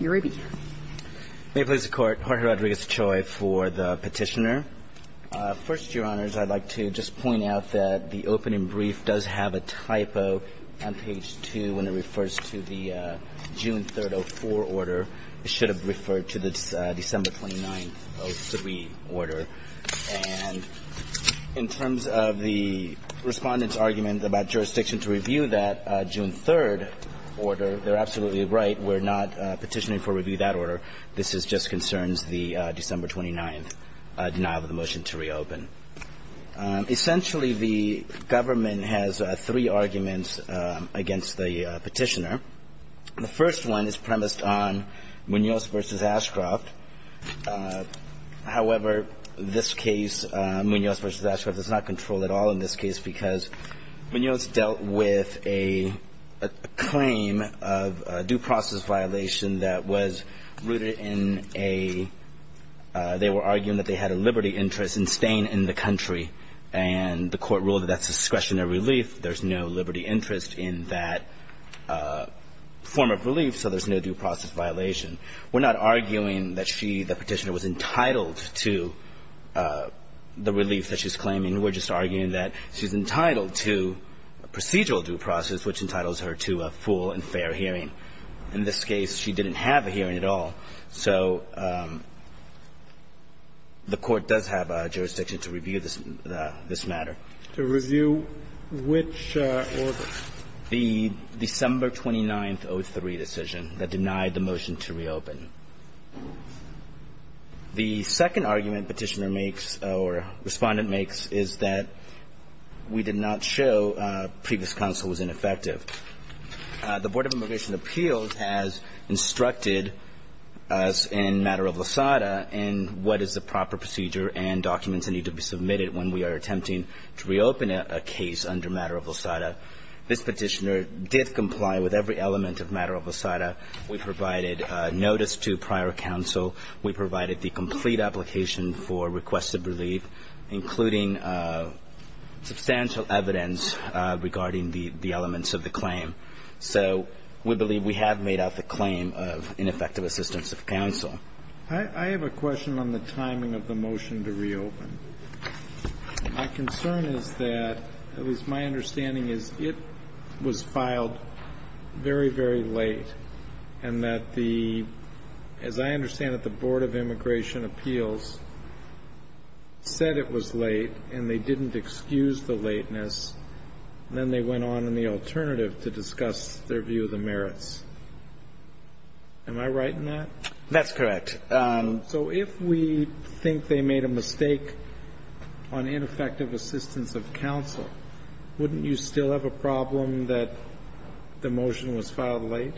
May it please the Court, Jorge Rodriguez-Choi for the petitioner. First, Your Honors, I'd like to just point out that the opening brief does have a typo on page 2 when it refers to the June 3, 2004 order. It should have referred to the December 29, 2003 order. And in terms of the respondent's argument about jurisdiction to review that June 3 order, they're absolutely right. We're not petitioning for review of that order. This just concerns the December 29 denial of the motion to reopen. Essentially, the government has three arguments against the petitioner. The first one is premised on Munoz v. Ashcroft. However, this case, Munoz v. Ashcroft, does not control at all in this case because Munoz dealt with a claim of due process violation that was rooted in a they were arguing that they had a liberty interest in staying in the country. And the Court ruled that that's discretionary relief. There's no liberty interest in that form of relief, so there's no due process violation. We're not arguing that she, the petitioner, was entitled to the relief that she's claiming. We're just arguing that she's entitled to a procedural due process, which entitles her to a full and fair hearing. In this case, she didn't have a hearing at all. So the Court does have jurisdiction to review this matter. To review which order? The December 29th, 2003 decision that denied the motion to reopen. The second argument petitioner makes or Respondent makes is that we did not show previous counsel was ineffective. The Board of Immigration Appeals has instructed us in matter of Losada in what is the proper procedure and documents that need to be submitted when we are attempting to reopen a case under matter of Losada. This petitioner did comply with every element of matter of Losada. We provided notice to prior counsel. We provided the complete application for requested relief, including substantial evidence regarding the elements of the claim. So we believe we have made out the claim of ineffective assistance of counsel. I have a question on the timing of the motion to reopen. My concern is that, at least my understanding is, it was filed very, very late, and that the as I understand it, the Board of Immigration Appeals said it was late and they didn't excuse the lateness, and then they went on in the alternative to discuss their view of the merits. Am I right in that? That's correct. So if we think they made a mistake on ineffective assistance of counsel, wouldn't you still have a problem that the motion was filed late?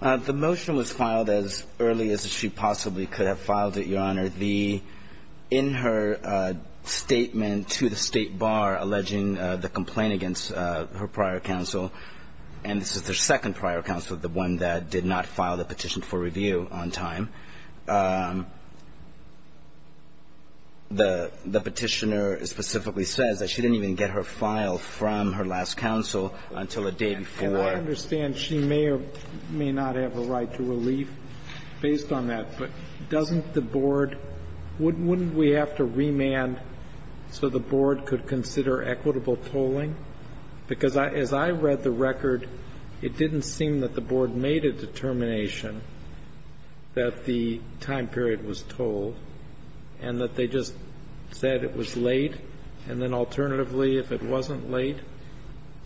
The motion was filed as early as she possibly could have filed it, Your Honor. In her statement to the State Bar alleging the complaint against her prior counsel and this is their second prior counsel, the one that did not file the petition for review on time, the petitioner specifically says that she didn't even get her file from her last counsel until a day before. I understand she may or may not have a right to relief based on that, but doesn't the Board – wouldn't we have to remand so the Board could consider equitable tolling? Because as I read the record, it didn't seem that the Board made a determination that the time period was tolled and that they just said it was late, and then alternatively, if it wasn't late,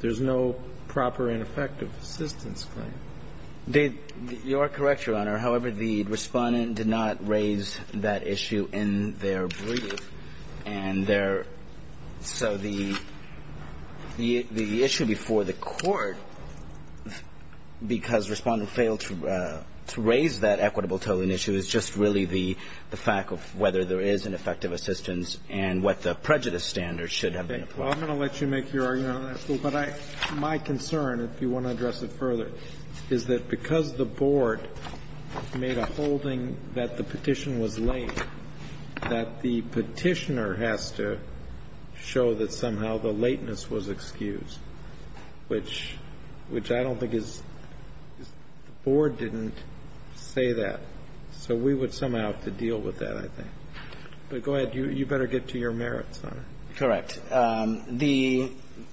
there's no proper ineffective assistance claim. You are correct, Your Honor. However, the Respondent did not raise that issue in their brief. And there – so the issue before the Court, because Respondent failed to raise that equitable tolling issue, is just really the fact of whether there is an effective assistance and what the prejudice standards should have been. Well, I'm going to let you make your argument on that, but my concern, if you want to address it further, is that because the Board made a holding that the petition was late, that the Petitioner has to show that somehow the lateness was excused, which – which I don't think is – the Board didn't say that. So we would somehow have to deal with that, I think. But go ahead. You better get to your merits, Your Honor. Correct. The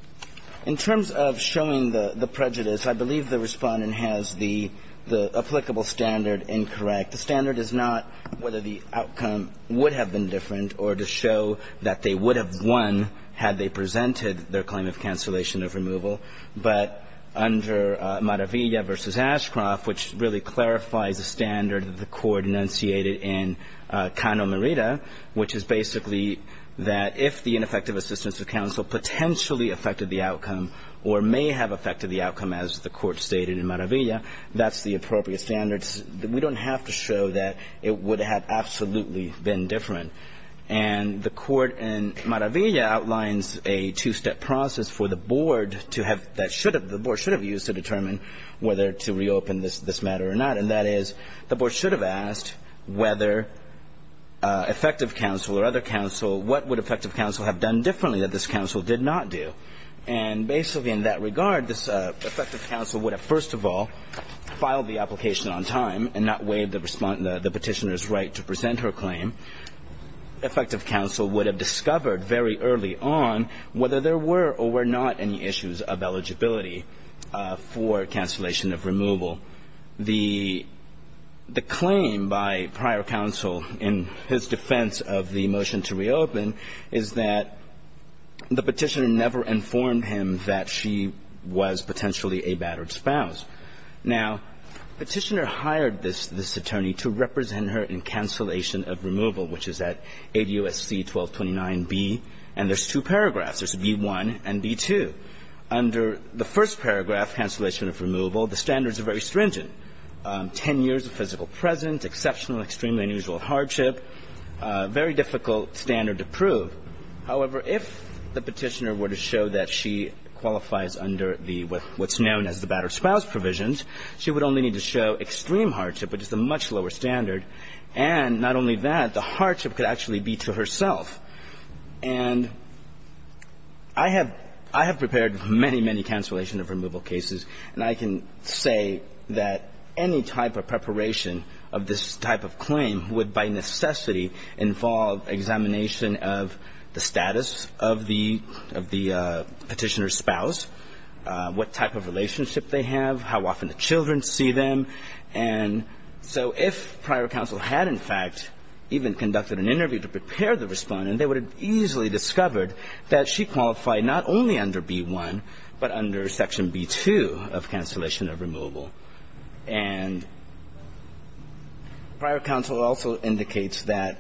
– in terms of showing the prejudice, I believe the Respondent has the – the applicable standard incorrect. The standard is not whether the outcome would have been different or to show that they would have won had they presented their claim of cancellation of removal. But under Maravilla v. Ashcroft, which really clarifies the standard that the Court enunciated in Cano-Merida, which is basically that if the ineffective assistance of counsel potentially affected the outcome or may have affected the outcome, as the Court stated in Maravilla, that's the appropriate standard. We don't have to show that it would have absolutely been different. And the Court in Maravilla outlines a two-step process for the Board to have – that should have – the Board should have used to determine whether to reopen this matter or not. And that is the Board should have asked whether effective counsel or other counsel – what would effective counsel have done differently that this counsel did not do? And basically in that regard, this effective counsel would have, first of all, filed the application on time and not waived the Respondent – the Petitioner's right to present her claim. Effective counsel would have discovered very early on whether there were or were not any issues of eligibility for cancellation of removal. The claim by prior counsel in his defense of the motion to reopen is that the Petitioner never informed him that she was potentially a battered spouse. Now, Petitioner hired this attorney to represent her in cancellation of removal, which is at 80 U.S.C. 1229b. And there's two paragraphs. There's b1 and b2. Under the first paragraph, cancellation of removal, the standards are very stringent, 10 years of physical presence, exceptional, extremely unusual hardship, very difficult standard to prove. However, if the Petitioner were to show that she qualifies under the – what's known as the battered spouse provisions, she would only need to show extreme hardship, which is a much lower standard. And not only that, the hardship could actually be to herself. And I have – I have prepared many, many cancellation of removal cases, and I can say that any type of preparation of this type of claim would by necessity involve examination of the status of the – of the Petitioner's spouse, what type of relationship they have, how often the children see them. And so if prior counsel had, in fact, even conducted an interview to prepare the Respondent, they would have easily discovered that she qualified not only under b1, but under Section b2 of cancellation of removal. And prior counsel also indicates that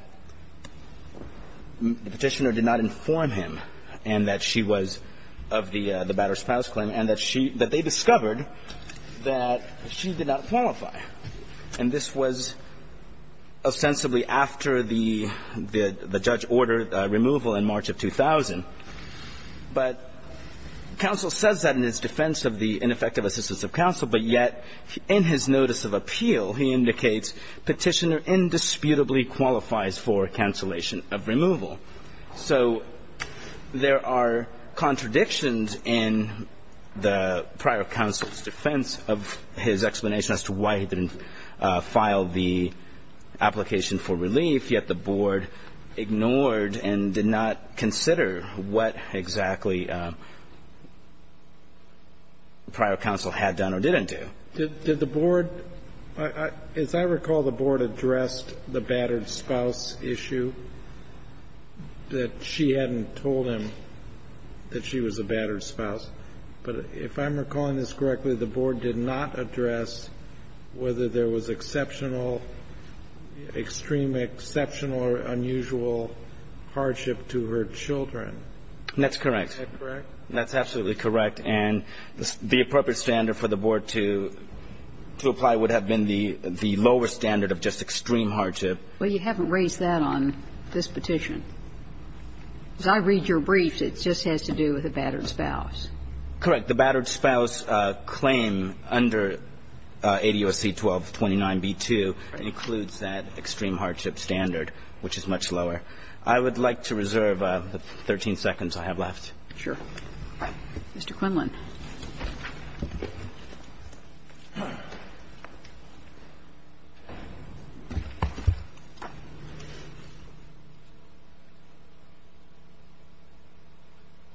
the Petitioner did not inform him and that she was of the battered spouse claim, and that she – that they discovered that she did not qualify. And this was ostensibly after the – the judge ordered removal in March of 2000. But counsel says that in his defense of the ineffective assistance of counsel, but yet in his notice of appeal, he indicates Petitioner indisputably qualifies for cancellation of removal. So there are contradictions in the prior counsel's defense of his explanation as to why he didn't file the application for relief, yet the Board ignored and did not consider what exactly prior counsel had done or didn't do. Did the Board – as I recall, the Board addressed the battered spouse issue, that she hadn't told him that she was a battered spouse. But if I'm recalling this correctly, the Board did not address whether there was exceptional, extreme exceptional or unusual hardship to her children. That's correct. Is that correct? That's absolutely correct. And the appropriate standard for the Board to – to apply would have been the lower standard of just extreme hardship. Well, you haven't raised that on this petition. As I read your briefs, it just has to do with a battered spouse. Correct. The battered spouse claim under ADOC 1229b2 includes that extreme hardship standard, which is much lower. I would like to reserve the 13 seconds I have left. Sure. Mr. Quinlan.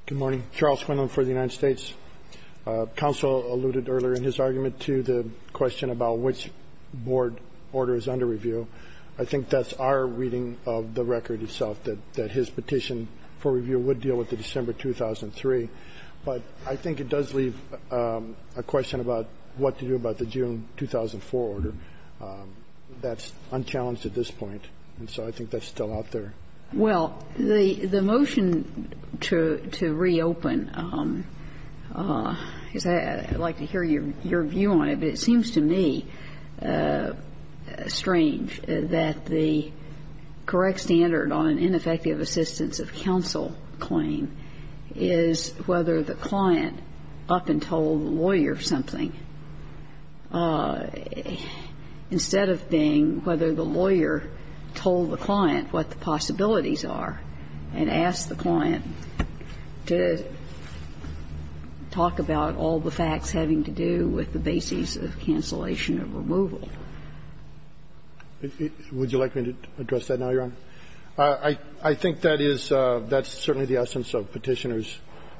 Good morning. Charles Quinlan for the United States. Counsel alluded earlier in his argument to the question about which Board order is under review. I think that's our reading of the record itself, that his petition for review would deal with the December 2003. But I think it does leave a question about what to do about the June 2004 order. That's unchallenged at this point. And so I think that's still out there. Well, the motion to reopen, I'd like to hear your view on it, but it seems to me strange that the correct standard on an ineffective assistance of counsel claim is whether the client up and told the lawyer something, instead of being whether the lawyer told the client what the possibilities are and asked the client to talk about all the facts having to do with the basis of cancellation of removal. Would you like me to address that now, Your Honor? I think that is the essence of Petitioner's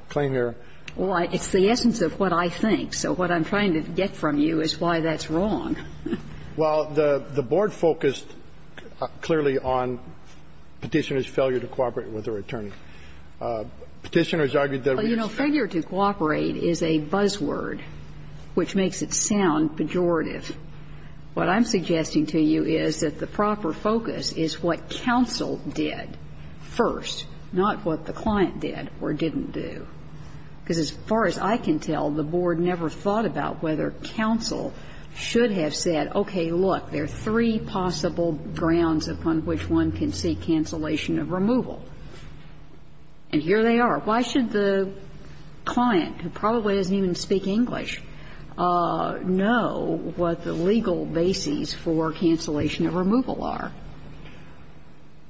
claim here. Well, it's the essence of what I think. So what I'm trying to get from you is why that's wrong. Well, the Board focused clearly on Petitioner's failure to cooperate with her attorney. Petitioner has argued that a reason for failure to cooperate is a buzzword. Which makes it sound pejorative. What I'm suggesting to you is that the proper focus is what counsel did first, not what the client did or didn't do. Because as far as I can tell, the Board never thought about whether counsel should have said, okay, look, there are three possible grounds upon which one can seek cancellation of removal. And here they are. Why should the client, who probably doesn't even speak English, know what the legal bases for cancellation of removal are?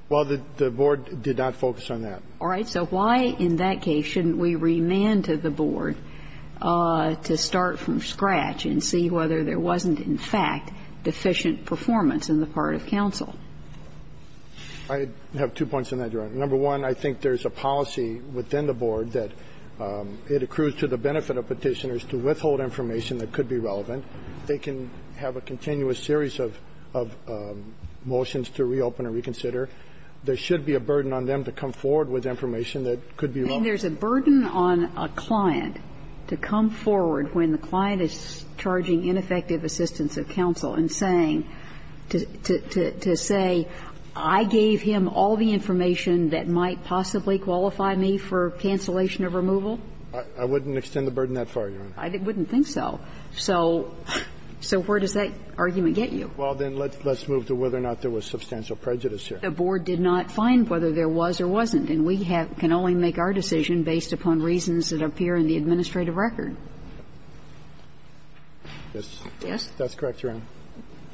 Well, the Board did not focus on that. All right. So why, in that case, shouldn't we remand to the Board to start from scratch and see whether there wasn't, in fact, deficient performance on the part of counsel? I have two points on that, Your Honor. Number one, I think there's a policy within the Board that it accrues to the benefit of Petitioners to withhold information that could be relevant. They can have a continuous series of motions to reopen and reconsider. There should be a burden on them to come forward with information that could be relevant. And there's a burden on a client to come forward when the client is charging ineffective assistance of counsel and saying, to say, I gave him all the information that might possibly qualify me for cancellation of removal. I wouldn't extend the burden that far, Your Honor. I wouldn't think so. So where does that argument get you? Well, then, let's move to whether or not there was substantial prejudice here. The Board did not find whether there was or wasn't. And we have to only make our decision based upon reasons that appear in the administrative record. Yes. Yes. That's correct, Your Honor.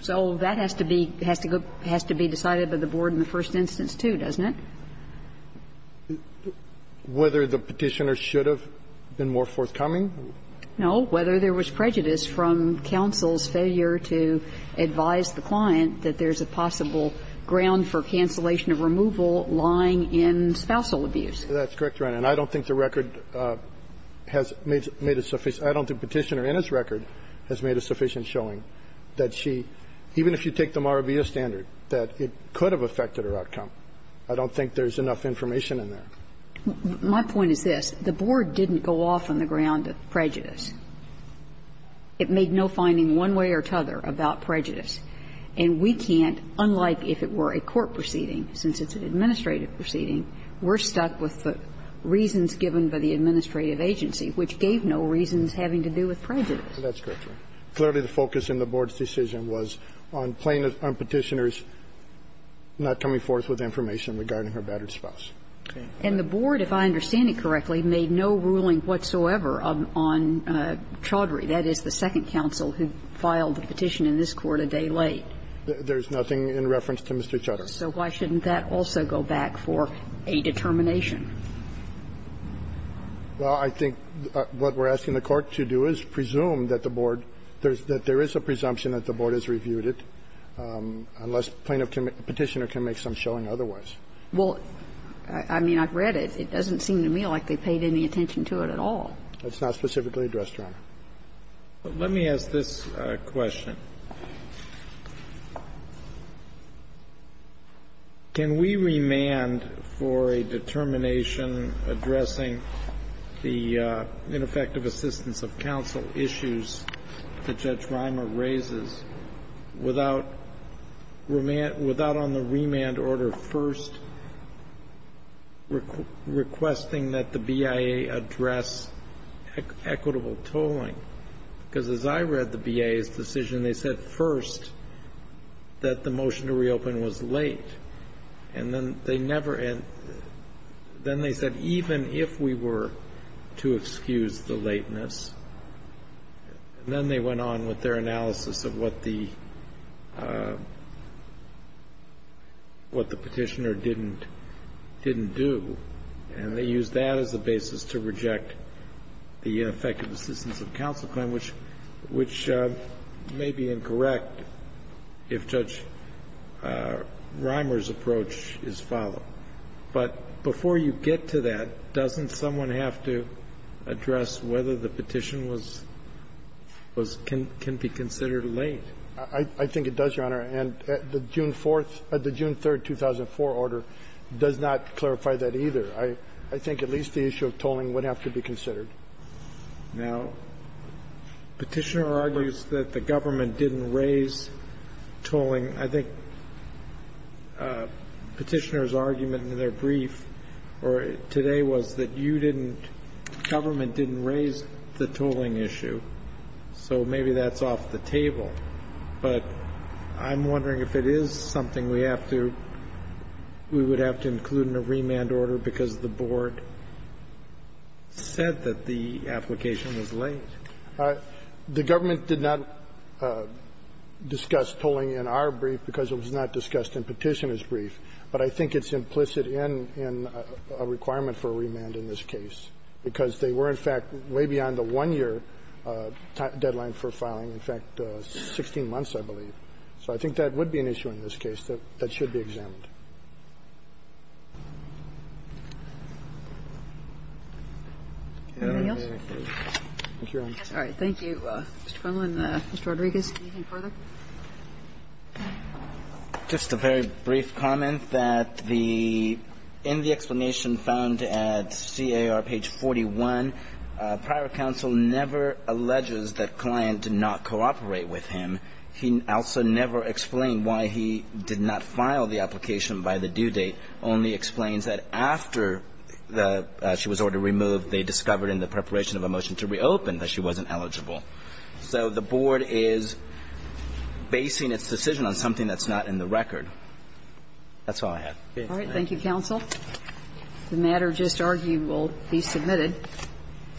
So that has to be go to be decided by the Board in the first instance, too, doesn't it? Whether the Petitioner should have been more forthcoming? No. Whether there was prejudice from counsel's failure to advise the client that there's a possible ground for cancellation of removal lying in spousal abuse. That's correct, Your Honor. And I don't think the record has made a sufficient – I don't think Petitioner in its record has made a sufficient showing that she, even if you take the Marabilla standard, that it could have affected her outcome. I don't think there's enough information in there. My point is this. The Board didn't go off on the ground of prejudice. It made no finding one way or another about prejudice. And we can't, unlike if it were a court proceeding, since it's an administrative proceeding, we're stuck with the reasons given by the administrative agency, which gave no reasons having to do with prejudice. That's correct, Your Honor. Clearly, the focus in the Board's decision was on plaintiff – on Petitioner's not coming forth with information regarding her battered spouse. And the Board, if I understand it correctly, made no ruling whatsoever on Chaudhry, that is, the second counsel who filed the petition in this Court a day late. There's nothing in reference to Mr. Chaudhry. So why shouldn't that also go back for a determination? Well, I think what we're asking the Court to do is presume that the Board – that there is a presumption that the Board has reviewed it, unless plaintiff can – Petitioner can make some showing otherwise. Well, I mean, I've read it. It doesn't seem to me like they paid any attention to it at all. It's not specifically addressed, Your Honor. Let me ask this question. Can we remand for a determination addressing the ineffective assistance of counsel issues that Judge Rima raises without – without on the remand order first requesting that the BIA address equitable tolling? Because as I read the BIA's decision, they said first that the motion to reopen was late. And then they never – then they said even if we were to excuse the lateness. And then they went on with their analysis of what the Petitioner didn't do. And they used that as a basis to reject the ineffective assistance of counsel claim, which – which may be incorrect if Judge Rimer's approach is followed. But before you get to that, doesn't someone have to address whether the petition was – was – can be considered late? I think it does, Your Honor. And the June 4th – the June 3rd, 2004 order does not clarify that either. I think at least the issue of tolling would have to be considered. Now, Petitioner argues that the government didn't raise tolling. I think Petitioner's argument in their brief today was that you didn't – government didn't raise the tolling issue. So maybe that's off the table. But I'm wondering if it is something we have to – we would have to include in a remand order because the board said that the application was late. The government did not discuss tolling in our brief because it was not discussed in Petitioner's brief. But I think it's implicit in – in a requirement for a remand in this case, because they were, in fact, way beyond the one-year deadline for filing. In fact, 16 months, I believe. So I think that would be an issue in this case that should be examined. Anything else? Thank you, Your Honor. All right. Thank you, Mr. Connelly. And Mr. Rodriguez, anything further? Just a very brief comment that the – in the explanation found at C.A.R. page 41, prior counsel never alleges that Kline did not cooperate with him. He also never explained why he did not file the application by the due date, only explains that after the – she was ordered removed, they discovered in the preparation of a motion to reopen that she wasn't eligible. So the board is basing its decision on something that's not in the record. That's all I have. All right. Thank you, counsel. The matter just argued will be submitted. Thank you.